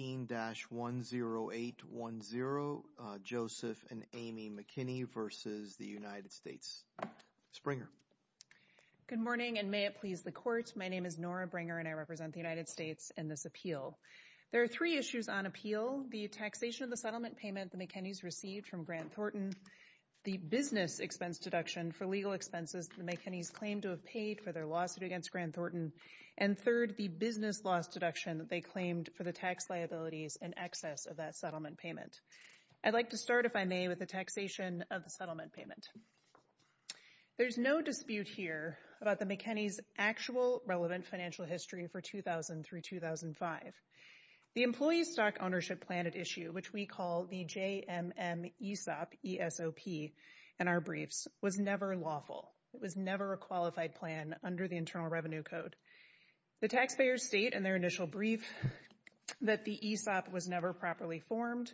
15-10810, Joseph and Amy McKinney v. United States. Ms. Bringer. Good morning and may it please the Court. My name is Nora Bringer and I represent the United States in this appeal. There are three issues on appeal. The taxation of the settlement payment the McKennys received from Grant Thornton, the business expense deduction for legal expenses the McKennys claimed to have paid for their lawsuit against Grant Thornton, and third, the business loss deduction they claimed for the tax liabilities and excess of that settlement payment. I'd like to start, if I may, with the taxation of the settlement payment. There's no dispute here about the McKennys' actual relevant financial history for 2000 through 2005. The employee stock ownership plan at issue, which we call the JMM ESOP, and our briefs, was never lawful. It was never a qualified plan under the Internal Taxpayers state in their initial brief that the ESOP was never properly formed,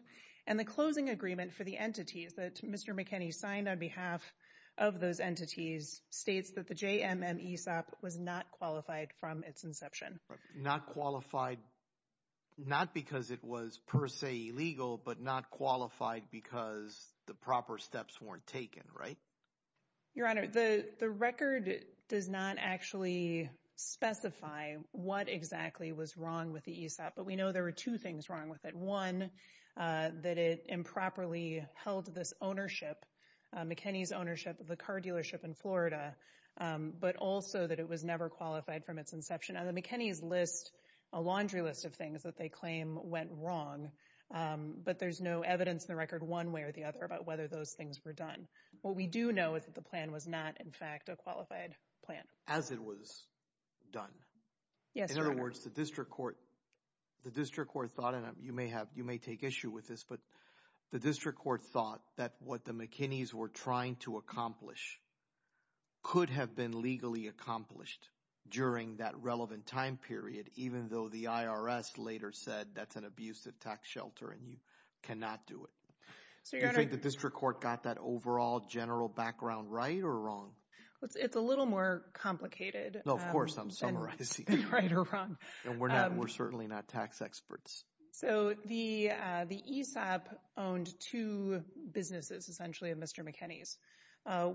and the closing agreement for the entities that Mr. McKenny signed on behalf of those entities states that the JMM ESOP was not qualified from its inception. Not qualified, not because it was per se illegal, but not qualified because the proper steps weren't taken, right? Your question is what exactly was wrong with the ESOP, but we know there were two things wrong with it. One, that it improperly held this ownership, McKenny's ownership of the car dealership in Florida, but also that it was never qualified from its inception. On the McKenny's list, a laundry list of things that they claim went wrong, but there's no evidence in the record one way or the other about whether those things were done. What we do know is that the plan was not, in fact, a qualified plan. As it was done. Yes, Your Honor. In other words, the district court thought, and you may take issue with this, but the district court thought that what the McKenny's were trying to accomplish could have been legally accomplished during that relevant time period, even though the IRS later said that's an abusive tax shelter and you cannot do it. So, Your Honor- Do you think the district court got that overall general background right or wrong? It's a little more complicated. No, of course, I'm summarizing. Than right or wrong. And we're certainly not tax experts. So the ESOP owned two businesses, essentially, of Mr. McKenny's.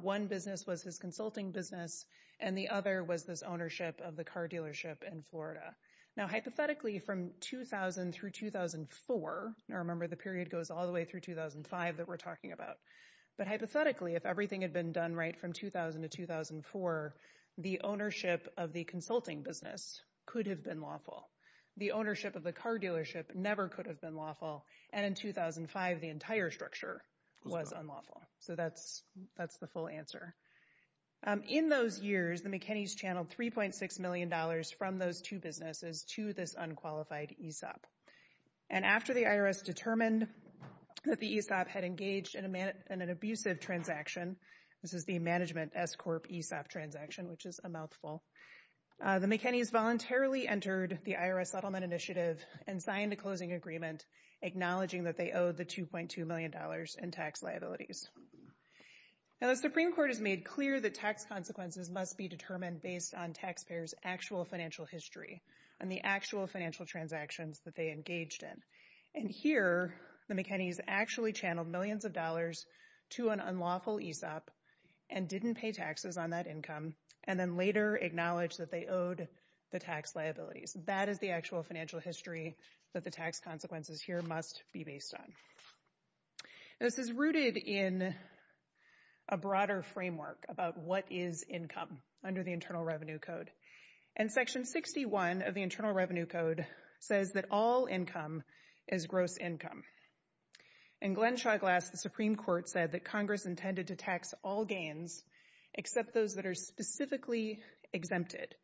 One business was his consulting business and the other was this ownership of the car dealership in Florida. Now, hypothetically from 2000 through 2004, I remember the period goes all the way through 2005 that we're talking about. But hypothetically, if everything had been done right from 2000 to 2004, the ownership of the consulting business could have been lawful. The ownership of the car dealership never could have been lawful. And in 2005, the entire structure was unlawful. So that's the full answer. In those years, the McKenny's channeled $3.6 million from those two businesses to this unqualified ESOP. And after the IRS determined that the ESOP had engaged in an abusive transaction, this is the management S-Corp ESOP transaction, which is a mouthful. The McKenny's voluntarily entered the IRS settlement initiative and signed a closing agreement acknowledging that they owe the $2.2 million in tax liabilities. Now, the Supreme Court has made clear that tax consequences must be determined based on taxpayers' actual financial history and the actual financial transactions that they engaged in. And here, the McKenny's actually channeled millions of dollars to an unlawful ESOP and didn't pay taxes on that income, and then later acknowledged that they owed the tax liabilities. That is the actual financial history that the tax consequences here must be based on. This is rooted in a broader framework about what is income under the Internal Revenue Code. And Section 61 of the Internal Revenue Code says that all income is gross income. In Glenn Shawglass, the Supreme Court said that Congress intended to tax all gains except those that are specifically exempted.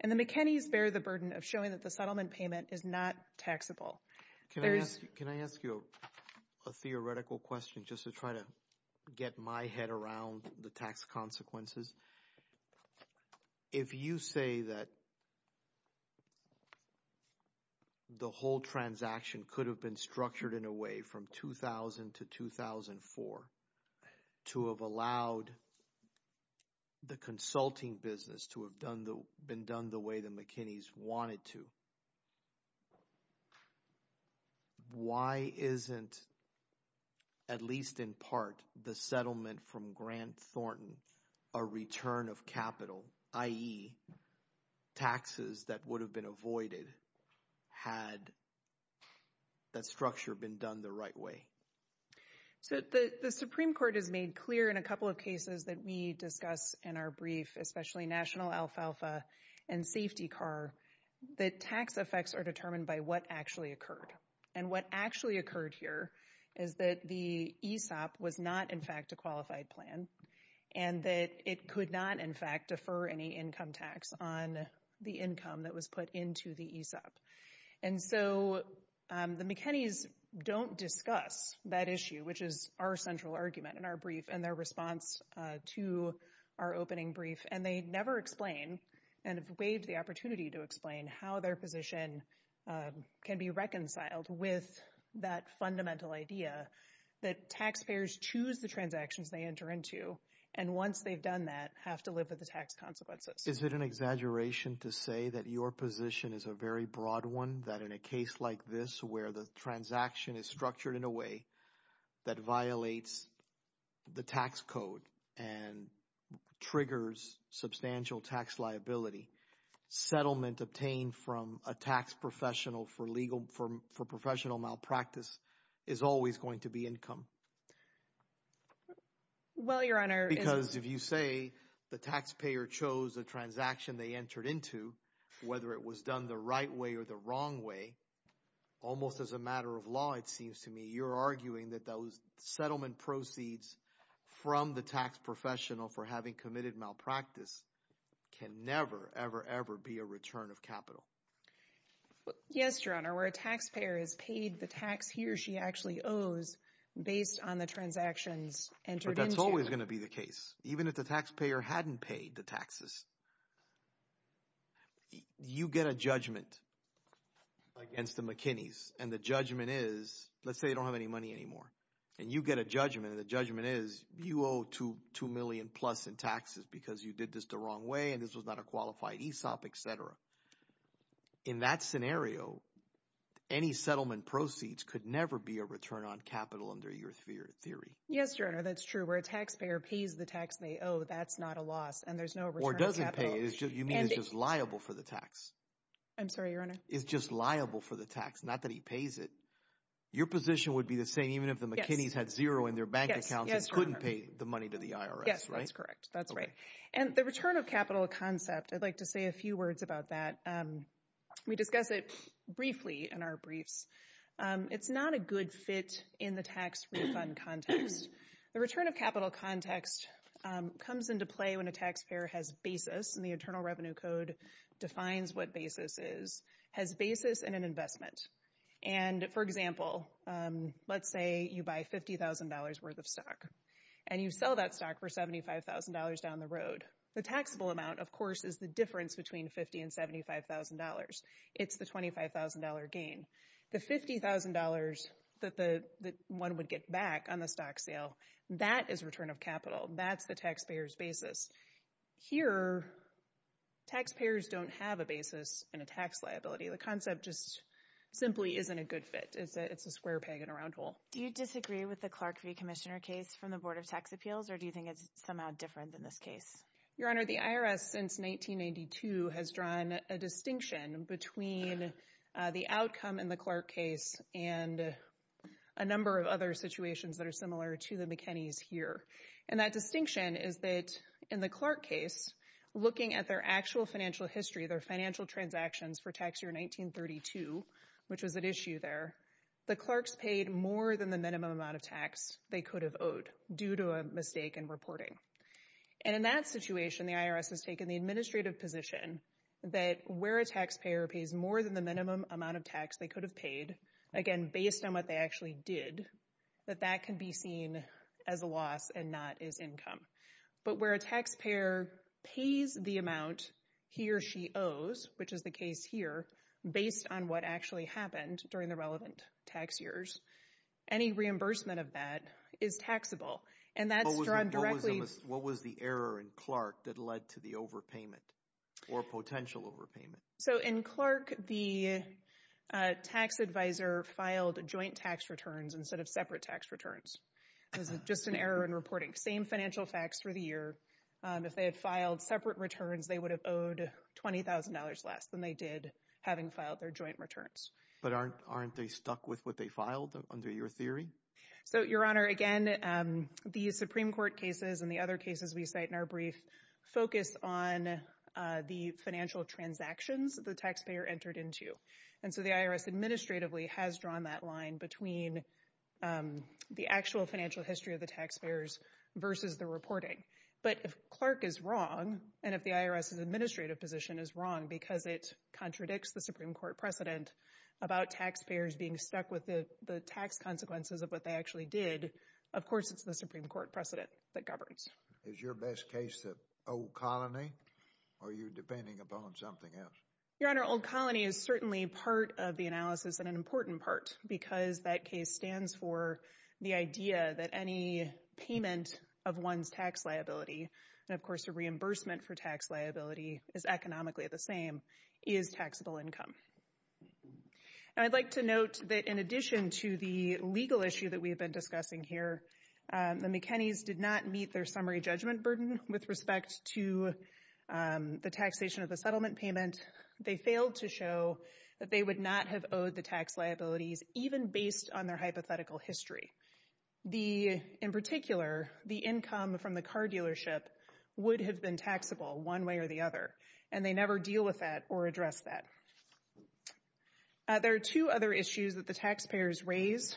And the McKenny's bear the burden of showing that the settlement payment is not taxable. Can I ask you a theoretical question just to try to get my head around the tax consequences? If you say that the whole transaction could have been structured in a way from 2000 to 2004 to have allowed the consulting business to have been done the way the McKenny's wanted to, why isn't, at least in part, the settlement from Grant Thornton a return of capital, i.e. taxes that would have been avoided had that structure been done the right way? So the Supreme Court has made clear in a couple of cases that we discuss in our brief, especially National Alfalfa and Safety Car, that tax effects are determined by what actually occurred. And what actually occurred here is that the ESOP was not, in fact, a qualified plan and that it could not, in fact, defer any income tax on the income that was put into the ESOP. And so the McKenny's don't discuss that issue, which is our central argument in our brief and their response to our opening brief. And they never explain and have waived the opportunity to explain how their position can be reconciled with that fundamental idea that taxpayers choose the transactions they enter into and, once they've done that, have to live with the tax consequences. Is it an exaggeration to say that your position is a very broad one, that in a case like this where the transaction is structured in a way that violates the tax code and triggers substantial tax liability, settlement obtained from a tax professional for legal – for professional malpractice is always going to be income? Well, Your Honor – Because if you say the taxpayer chose a transaction they entered into, whether it was done the law, it seems to me you're arguing that those settlement proceeds from the tax professional for having committed malpractice can never, ever, ever be a return of capital. Yes, Your Honor. Where a taxpayer has paid the tax he or she actually owes based on the transactions entered into – But that's always going to be the case, even if the taxpayer hadn't paid the taxes. You get a judgment against the McKinney's, and the judgment is – let's say you don't have any money anymore. And you get a judgment, and the judgment is you owe two million plus in taxes because you did this the wrong way and this was not a qualified ESOP, et cetera. In that scenario, any settlement proceeds could never be a return on capital under your theory. Yes, Your Honor, that's true. Where a taxpayer pays the taxpayer, oh, that's not a loss and there's no return on capital. Or doesn't pay it. You mean it's just liable for the tax. I'm sorry, Your Honor. It's just liable for the tax, not that he pays it. Your position would be the same even if the McKinney's had zero in their bank accounts and couldn't pay the money to the IRS, right? Yes, that's correct. That's right. And the return of capital concept, I'd like to say a few words about that. We discuss it briefly in our briefs. It's not a good fit in the tax refund context. The return of capital context comes into play when a taxpayer has basis, and the Internal Revenue Code defines what basis is, has basis in an investment. And, for example, let's say you buy $50,000 worth of stock. And you sell that stock for $75,000 down the road. The taxable amount, of course, is the difference between $50,000 and $75,000. It's the $25,000 gain. The $50,000 that one would get back on the stock sale, that is return of capital. That's the taxpayer's basis. Here, taxpayers don't have a basis in a tax liability. The concept just simply isn't a good fit. It's a square peg in a round hole. Do you disagree with the Clark v. Commissioner case from the Board of Tax Appeals, or do you think it's somehow different than this case? Your Honor, the IRS, since 1992, has drawn a distinction between the outcome in the Clark case and a number of other situations that are similar to the McKinney's here. And that distinction is that, in the Clark case, looking at their actual financial history, their financial transactions for tax year 1932, which was at issue there, the Clarks paid more than the minimum amount of tax they could have owed due to a mistake in reporting. And in that situation, the IRS has taken the administrative position that where a taxpayer pays more than the minimum amount of tax they could have paid, again, based on what they actually did, that that can be seen as a loss and not as income. But where a taxpayer pays the amount he or she owes, which is the case here, based on what actually happened during the relevant tax years, any reimbursement of that is taxable. What was the error in Clark that led to the overpayment, or potential overpayment? So, in Clark, the tax advisor filed joint tax returns instead of separate tax returns. It was just an error in reporting. Same financial facts for the year. If they had filed separate returns, they would have owed $20,000 less than they did having filed their joint returns. But aren't they stuck with what they filed, under your theory? So, Your Honor, again, the Supreme Court cases and the other cases we cite in our brief focus on the financial transactions the taxpayer entered into. And so the IRS administratively has drawn that line between the actual financial history of the taxpayers versus the reporting. But if Clark is wrong, and if the IRS's administrative position is wrong because it contradicts the of course it's the Supreme Court precedent that governs. Is your best case the old colony, or are you depending upon something else? Your Honor, old colony is certainly part of the analysis, and an important part, because that case stands for the idea that any payment of one's tax liability, and of course a reimbursement for tax liability is economically the same, is taxable income. And I'd like to note that in addition to the legal issue that we've been discussing here, the McKinney's did not meet their summary judgment burden with respect to the taxation of the settlement payment. They failed to show that they would not have owed the tax liabilities, even based on their hypothetical history. The, in particular, the income from the car dealership would have been taxable one way or the other, and they never deal with that or address that. There are two other issues that the taxpayers raise.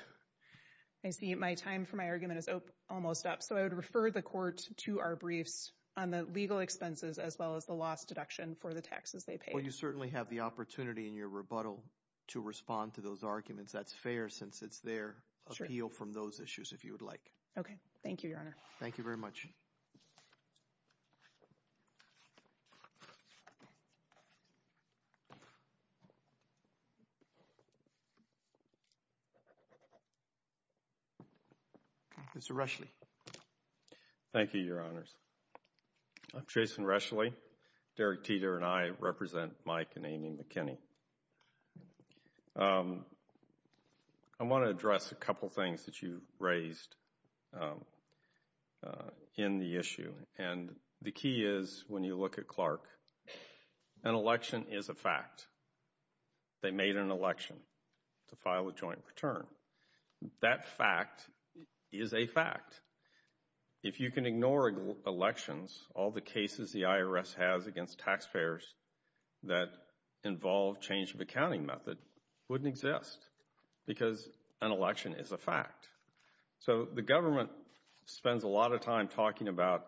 I see my time for my argument is almost up, so I would refer the court to our briefs on the legal expenses, as well as the loss deduction for the taxes they paid. Well, you certainly have the opportunity in your rebuttal to respond to those arguments. That's fair, since it's their appeal from those issues, if you would like. Okay, thank you, Your Honor. Thank you very much. Mr. Reschle. Thank you, Your Honors. I'm Jason Reschle. Derek Teter and I represent Mike and Amy McKinney. I want to address a couple things that you raised in the issue, and the key is when you look at Clark, an election is a fact. They made an election to file a joint return. That fact is a fact. If you can ignore elections, all the cases the IRS has against taxpayers that involve change of accounting method wouldn't exist, because an election is a fact. So the government spends a lot of time talking about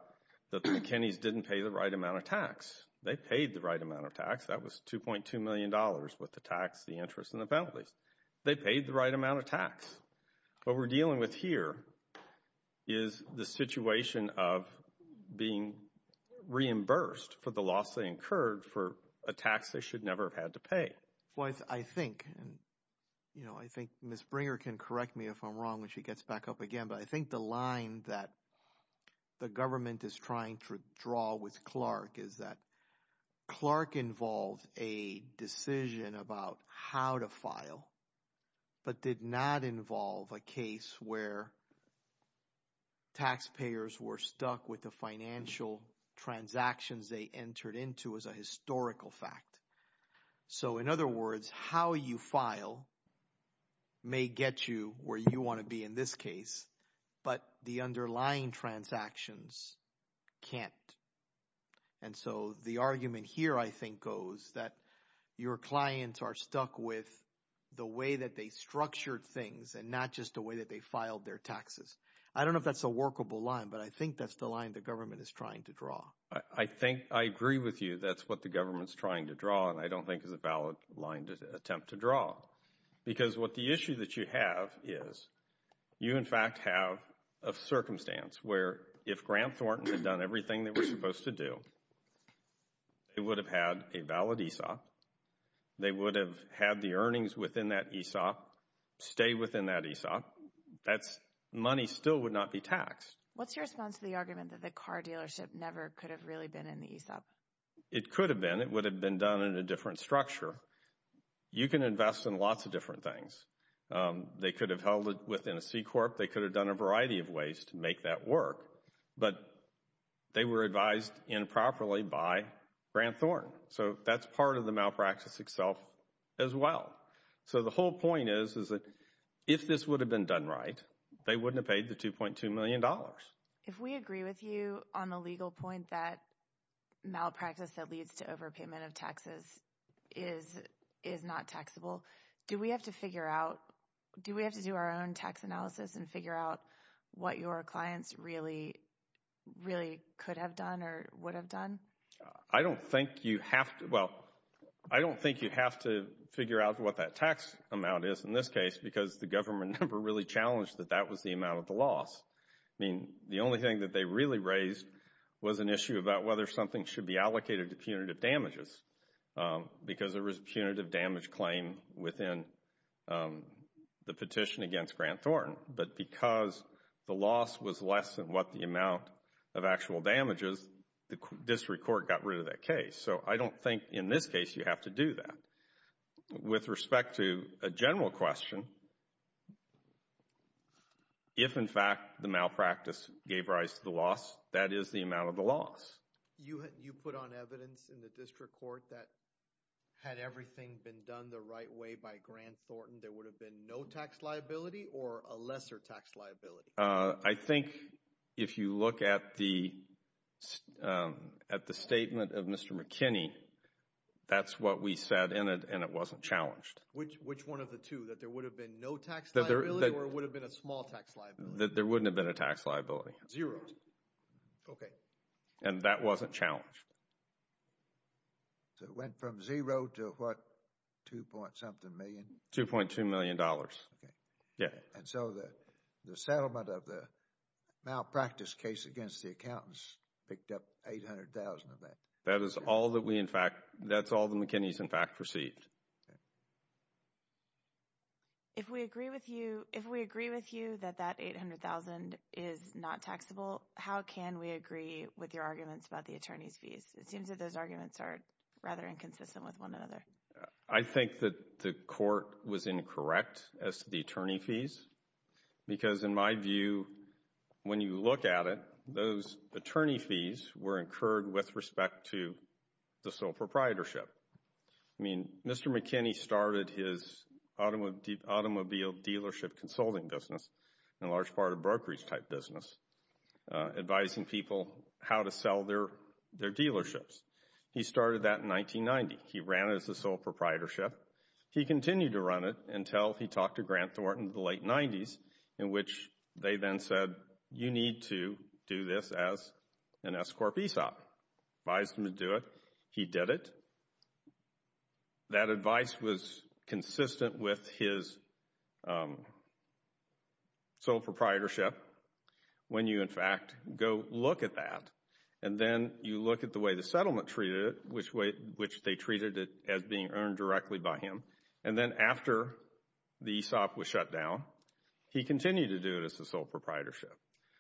that the McKinneys didn't pay the right amount of tax. They paid the right amount of tax. That was $2.2 million with the tax, the interest, and the penalties. They paid the right amount of tax. What we're dealing with here is the situation of being reimbursed for the loss they incurred for a tax they should never have had to pay. I think, and I think Ms. Bringer can correct me if I'm wrong when she gets back up again, but I think the line that the government is trying to draw with Clark is that Clark involved a decision about how to file, but did not involve a case where taxpayers were stuck with the financial transactions they entered into as a historical fact. So, in other words, how you file may get you where you want to be in this case, but the underlying transactions can't. And so the argument here, I think, goes that your clients are stuck with the way that they structured things and not just the way that they filed their taxes. I don't know if that's a workable line, but I think that's the line the government is trying to draw. I think, I agree with you, that's what the government is trying to draw, and I don't think it's a valid line to attempt to draw. Because what the issue that you have is, you in fact have a circumstance where if Grant Thornton had done everything that we're supposed to do, they would have had a valid ESOP, they would have had the earnings within that ESOP, stay within that ESOP, that money still would not be taxed. What's your response to the argument that the car dealership never could have really been in the ESOP? It could have been. It would have been done in a different structure. You can invest in lots of different things. They could have held it within a C-Corp. They could have done a variety of ways to make that work. But they were advised improperly by Grant Thornton. So that's part of the malpractice itself as well. So the whole point is, is that if this would have been done right, they wouldn't have paid the $2.2 million. If we agree with you on the legal point that malpractice that leads to overpayment of taxes is not taxable, do we have to figure out, do we have to do our own tax analysis and figure out what your clients really, really could have done or would have done? I don't think you have to. Well, I don't think you have to figure out what that tax amount is in this case because the government never really challenged that that was the amount of the loss. I mean, the only thing that they really raised was an issue about whether something should be allocated to punitive damages because there was a punitive damage claim within the petition against Grant Thornton. But because the loss was less than what the amount of actual damage is, the district court got rid of that case. So I don't think in this case you have to do that. With respect to a general question, if in fact the malpractice gave rise to the loss, that is the amount of the loss. You put on evidence in the district court that had everything been done the right way by Grant Thornton, there would have been no tax liability or a lesser tax liability? I think if you look at the statement of Mr. McKinney, that's what we said and it wasn't challenged. Which one of the two? That there would have been no tax liability or it would have been a small tax liability? There wouldn't have been a tax liability. Zero. Okay. And that wasn't challenged. So it went from zero to what, two point something million? $2.2 million. Okay. Yeah. And so the settlement of the malpractice case against the accountants picked up $800,000 of that. That is all that we in fact, that's all that McKinney's in fact received. If we agree with you that that $800,000 is not taxable, how can we agree with your arguments about the attorney's fees? It seems that those arguments are rather inconsistent with one another. I think that the court was incorrect as to the attorney fees because in my view, when you look at it, those attorney fees were incurred with respect to the sole proprietorship. I mean, Mr. McKinney started his automobile dealership consulting business, a large part of brokerage type business, advising people how to sell their dealerships. He started that in 1990. He ran it as a sole proprietorship. He continued to run it until he talked to Grant Thornton in the late 90s in which they then said, you need to do this as an S Corp ESOP. Advised him to do it. He did it. That advice was consistent with his sole proprietorship when you in fact go look at that. And then you look at the way the settlement treated it, which they treated it as being earned directly by him. And then after the ESOP was shut down, he continued to do it as a sole proprietorship.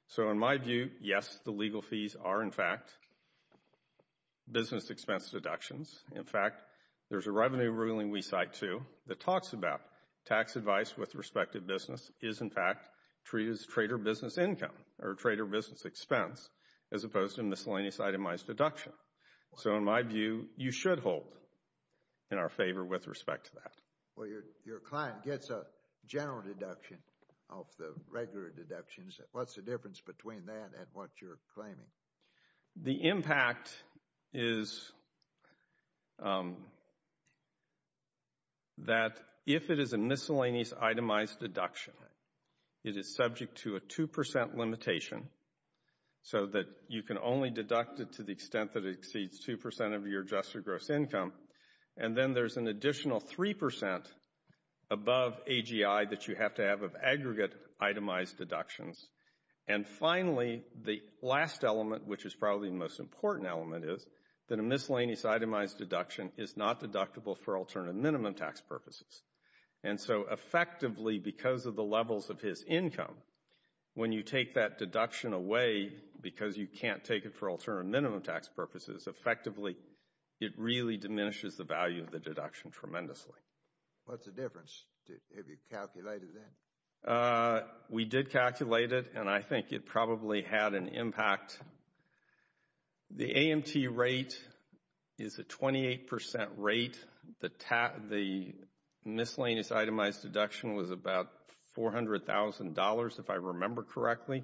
So in my view, yes, the legal fees are in fact business expense deductions. In fact, there's a revenue ruling we cite too that talks about tax advice with respect to business is in fact treated as trader business income or trader business expense as opposed to miscellaneous itemized deduction. So in my view, you should hold in our favor with respect to that. Well, your client gets a general deduction of the regular deductions. What's the difference between that and what you're claiming? The impact is that if it is a miscellaneous itemized deduction, it is subject to a 2% limitation so that you can only deduct it to the extent that it exceeds 2% of your adjusted gross income. And then there's an additional 3% above AGI that you have to have of aggregate itemized deductions. And finally, the last element, which is probably the most important element, is that a miscellaneous itemized deduction is not deductible for alternative minimum tax purposes. And so effectively because of the levels of his income, when you take that deduction away because you can't take it for alternative minimum tax purposes, effectively it really diminishes the value of the deduction tremendously. What's the difference? Have you calculated it? We did calculate it and I think it probably had an impact. The AMT rate is a 28% rate. The miscellaneous itemized deduction was about $400,000 if I remember correctly.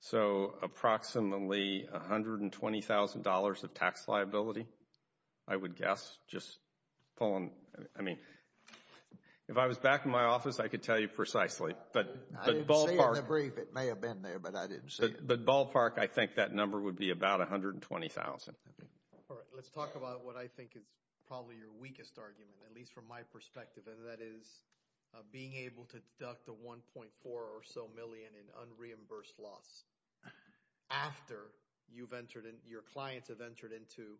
So approximately $120,000 of tax liability, I would guess. Just pulling, I mean, if I was back in my office, I could tell you precisely. I didn't see it in the brief. It may have been there, but I didn't see it. But ballpark, I think that number would be about $120,000. Let's talk about what I think is probably your weakest argument, at least from my perspective, and that is being able to deduct the $1.4 or so million in unreimbursed loss after your clients have entered into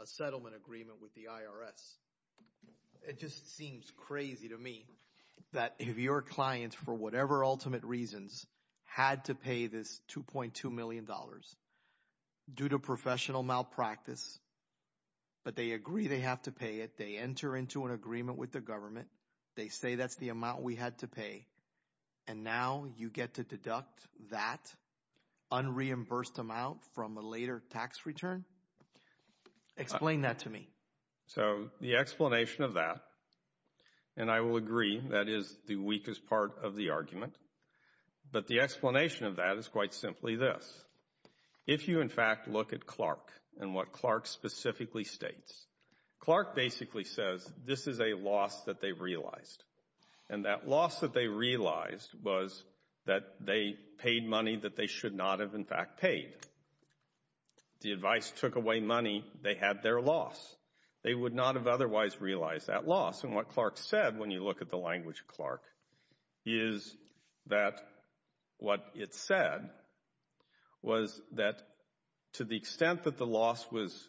a settlement agreement with the IRS. It just seems crazy to me that if your clients, for whatever ultimate reasons, had to pay this $2.2 million due to professional malpractice, but they agree they have to pay it, they enter into an agreement with the government, they say that's the amount we had to pay, and now you get to deduct that unreimbursed amount from a later tax return? Explain that to me. So the explanation of that, and I will agree that is the weakest part of the argument, but the explanation of that is quite simply this. If you, in fact, look at Clark and what Clark specifically states, Clark basically says this is a loss that they realized, and that loss that they realized was that they paid money that they should not have, in fact, paid. The advice took away money. They had their loss. They would not have otherwise realized that loss, and what Clark said, when you look at the language of Clark, is that what it said was that to the extent that the loss was,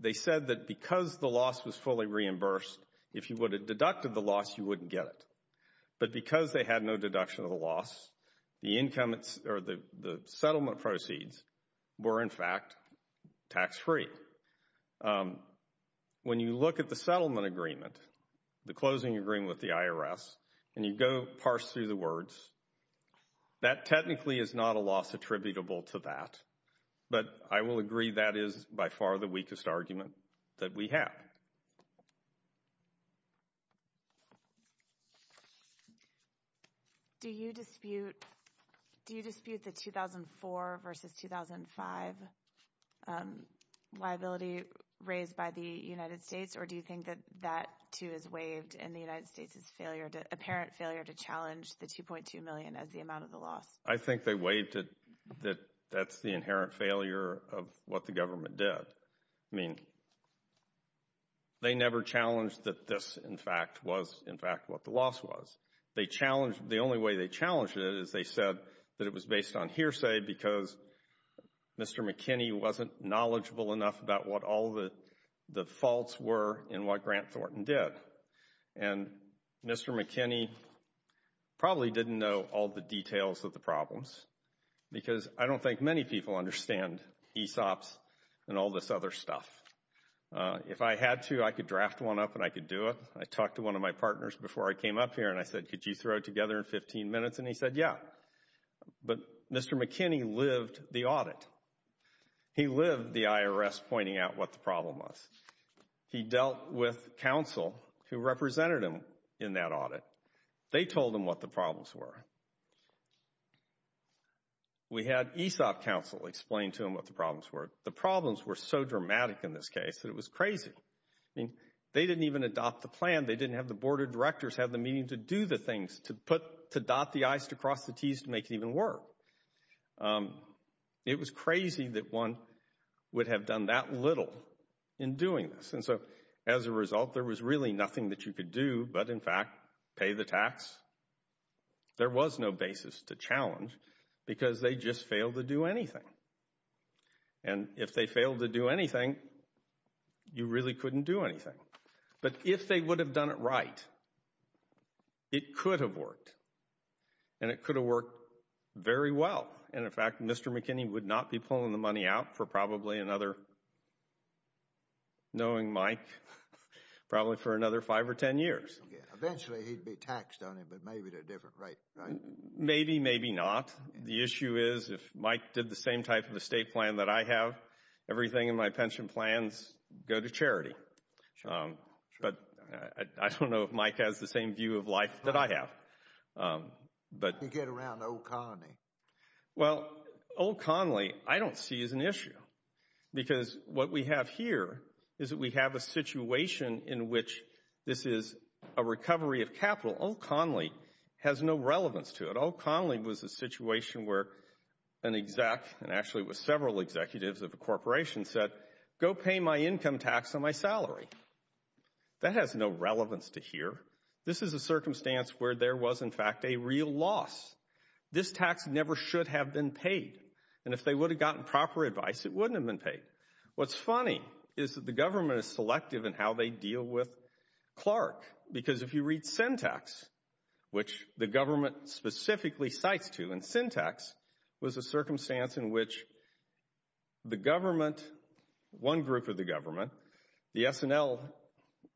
they said that because the loss was fully reimbursed, if you would have deducted the loss, you wouldn't get it. But because they had no deduction of the loss, the settlement proceeds were, in fact, tax-free. When you look at the settlement agreement, the closing agreement with the IRS, and you go parse through the words, that technically is not a loss attributable to that, but I will agree that is by far the weakest argument that we have. Do you dispute the 2004 versus 2005 liability raised by the United States, or do you think that that, too, is waived, and the United States' apparent failure to challenge the $2.2 million as the amount of the loss? I think they waived it. That's the inherent failure of what the government did. I mean, they never challenged that this, in fact, was, in fact, what the loss was. They challenged, the only way they challenged it is they said that it was based on hearsay, because Mr. McKinney wasn't knowledgeable enough about what all the faults were and what Grant Thornton did. And Mr. McKinney probably didn't know all the details of the problems, because I don't think many people understand ESOPs and all this other stuff. If I had to, I could draft one up and I could do it. I talked to one of my partners before I came up here and I said, could you throw it together in 15 minutes? And he said, yeah. But Mr. McKinney lived the audit. He lived the IRS pointing out what the problem was. He dealt with counsel who represented him in that audit. They told him what the problems were. We had ESOP counsel explain to him what the problems were. The problems were so dramatic in this case that it was crazy. I mean, they didn't even adopt the plan. They didn't have the board of directors have the meeting to do the things, to put, to dot the i's, to cross the t's, to make it even work. It was crazy that one would have done that little in doing this. And so, as a result, there was really nothing that you could do but, in fact, pay the tax. There was no basis to challenge because they just failed to do anything. And if they failed to do anything, you really couldn't do anything. But if they would have done it right, it could have worked. And it could have worked very well. And, in fact, Mr. McKinney would not be pulling the money out for probably another, knowing Mike, probably for another five or ten years. Eventually, he'd be taxed on it, but maybe at a different rate, right? Maybe, maybe not. The issue is, if Mike did the same type of estate plan that I have, everything in my pension plans go to charity. But I don't know if Mike has the same view of life that I have. You get around Old Connolly. Well, Old Connolly, I don't see as an issue. Because what we have here is that we have a situation in which this is a recovery of capital. Old Connolly has no relevance to it. Old Connolly was a situation where an exec, and actually it was several executives of a corporation, said, go pay my income tax on my salary. That has no relevance to here. This is a circumstance where there was, in fact, a real loss. This tax never should have been paid. And if they would have gotten proper advice, it wouldn't have been paid. What's funny is that the government is selective in how they deal with Clark. Because if you read Syntax, which the government specifically cites to, and Syntax was a circumstance in which the government, one group of the government, the SNL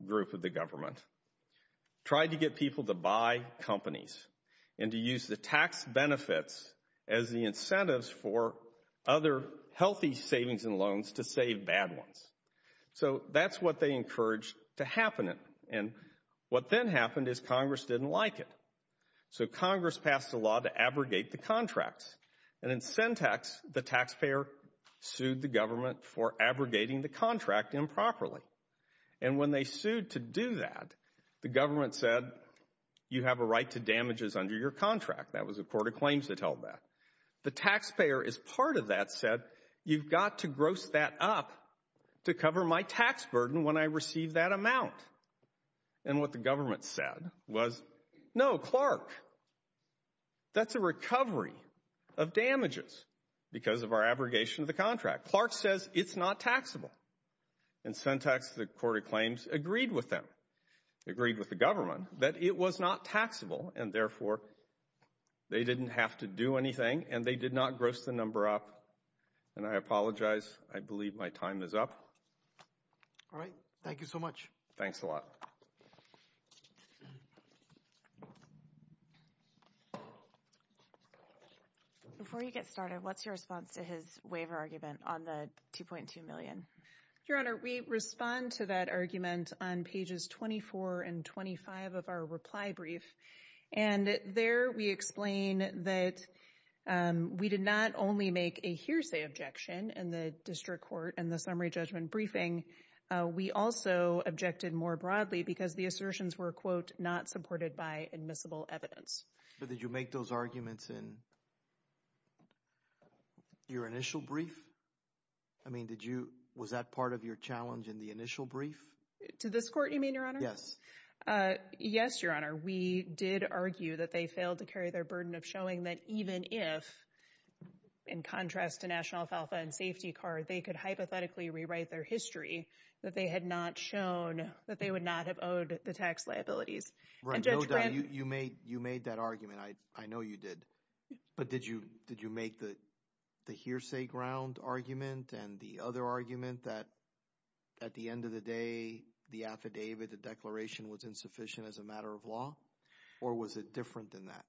group of the government, tried to get people to buy companies and to use the tax benefits as the incentives for other healthy savings and loans to save bad ones. So that's what they encouraged to happen. And what then happened is Congress didn't like it. So Congress passed a law to abrogate the contracts. And in Syntax, the taxpayer sued the government for abrogating the contract improperly. And when they sued to do that, the government said, you have a right to damages under your contract. That was the Court of Claims that held that. The taxpayer, as part of that, said, you've got to gross that up to cover my tax burden when I receive that amount. And what the government said was, no, Clark, that's a recovery of damages because of our abrogation of the contract. Clark says it's not taxable. In Syntax, the Court of Claims agreed with them, agreed with the government that it was not taxable and therefore they didn't have to do anything and they did not gross the number up. And I apologize. I believe my time is up. All right. Thank you so much. Thanks a lot. Before you get started, what's your response to his waiver argument on the $2.2 million? Your Honor, we respond to that argument on pages 24 and 25 of our reply brief. And there we explain that we did not only make a hearsay objection in the district court and the summary judgment briefing. We also objected more broadly because the assertions were, quote, not supported by admissible evidence. But did you make those arguments in your initial brief? I mean, was that part of your challenge in the initial brief? To this court, you mean, Your Honor? Yes. Yes, Your Honor. We did argue that they failed to carry their burden of showing that even if, in contrast to National Alfalfa and Safety Card, they could hypothetically rewrite their history, that they would not have owed the tax liabilities. You made that argument. I know you did. But did you make the hearsay ground argument and the other argument that at the end of the day, the affidavit, the declaration, was insufficient as a matter of law? Or was it different than that?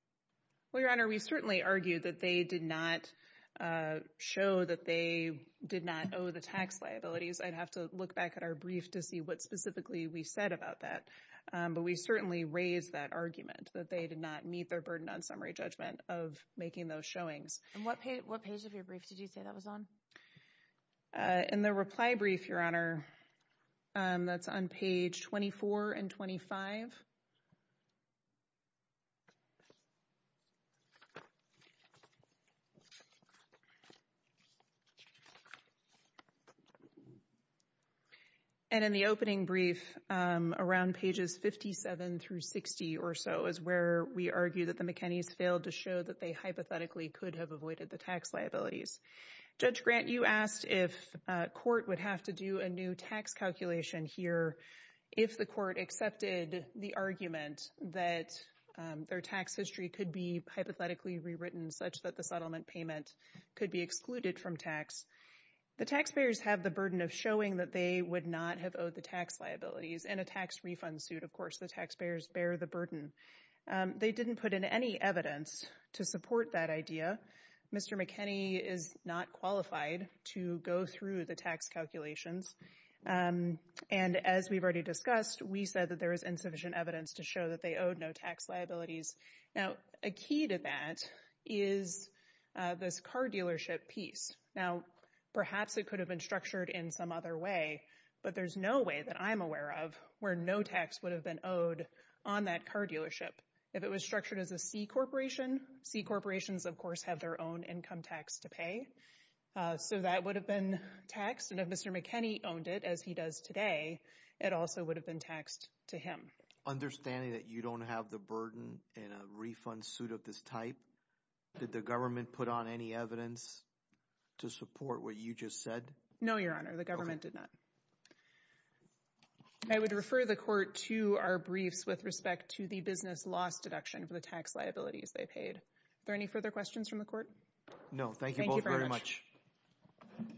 Well, Your Honor, we certainly argued that they did not show that they did not owe the tax liabilities. I'd have to look back at our brief to see what specifically we said about that. But we certainly raised that argument that they did not meet their burden on summary judgment of making those showings. And what page of your brief did you say that was on? In the reply brief, Your Honor, that's on page 24 and 25. And in the opening brief, around pages 57 through 60 or so, was where we argued that the McKinney's failed to show that they hypothetically could have avoided the tax liabilities. Judge Grant, you asked if court would have to do a new tax calculation here if the court accepted the argument that their tax history could be hypothetically rewritten such that the settlement payment could be excluded from tax. The taxpayers have the burden of showing that they would not have owed the tax liabilities. In a tax refund suit, of course, the taxpayers bear the burden. They didn't put in any evidence to support that idea. Mr. McKinney is not qualified to go through the tax calculations. And as we've already discussed, we said that there is insufficient evidence to show that they owed no tax liabilities. Now, a key to that is this car dealership piece. Now, perhaps it could have been structured in some other way. But there's no way that I'm aware of where no tax would have been owed on that car dealership. If it was structured as a C corporation, C corporations, of course, have their own income tax to pay. So that would have been taxed. And if Mr. McKinney owned it, as he does today, it also would have been taxed to him. Understanding that you don't have the burden in a refund suit of this type, did the government put on any evidence to support what you just said? No, Your Honor. The government did not. I would refer the court to our briefs with respect to the business loss deduction for the tax liabilities they paid. Are there any further questions from the court? Thank you both very much. Thank you very much. Thank you.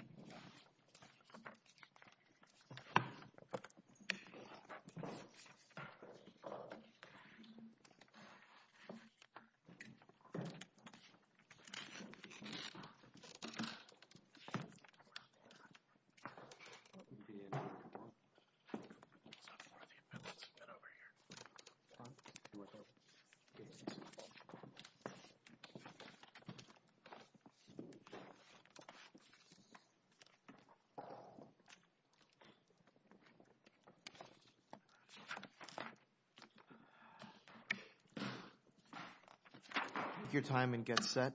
Take your time and get set.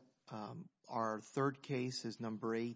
Our third case is number 18.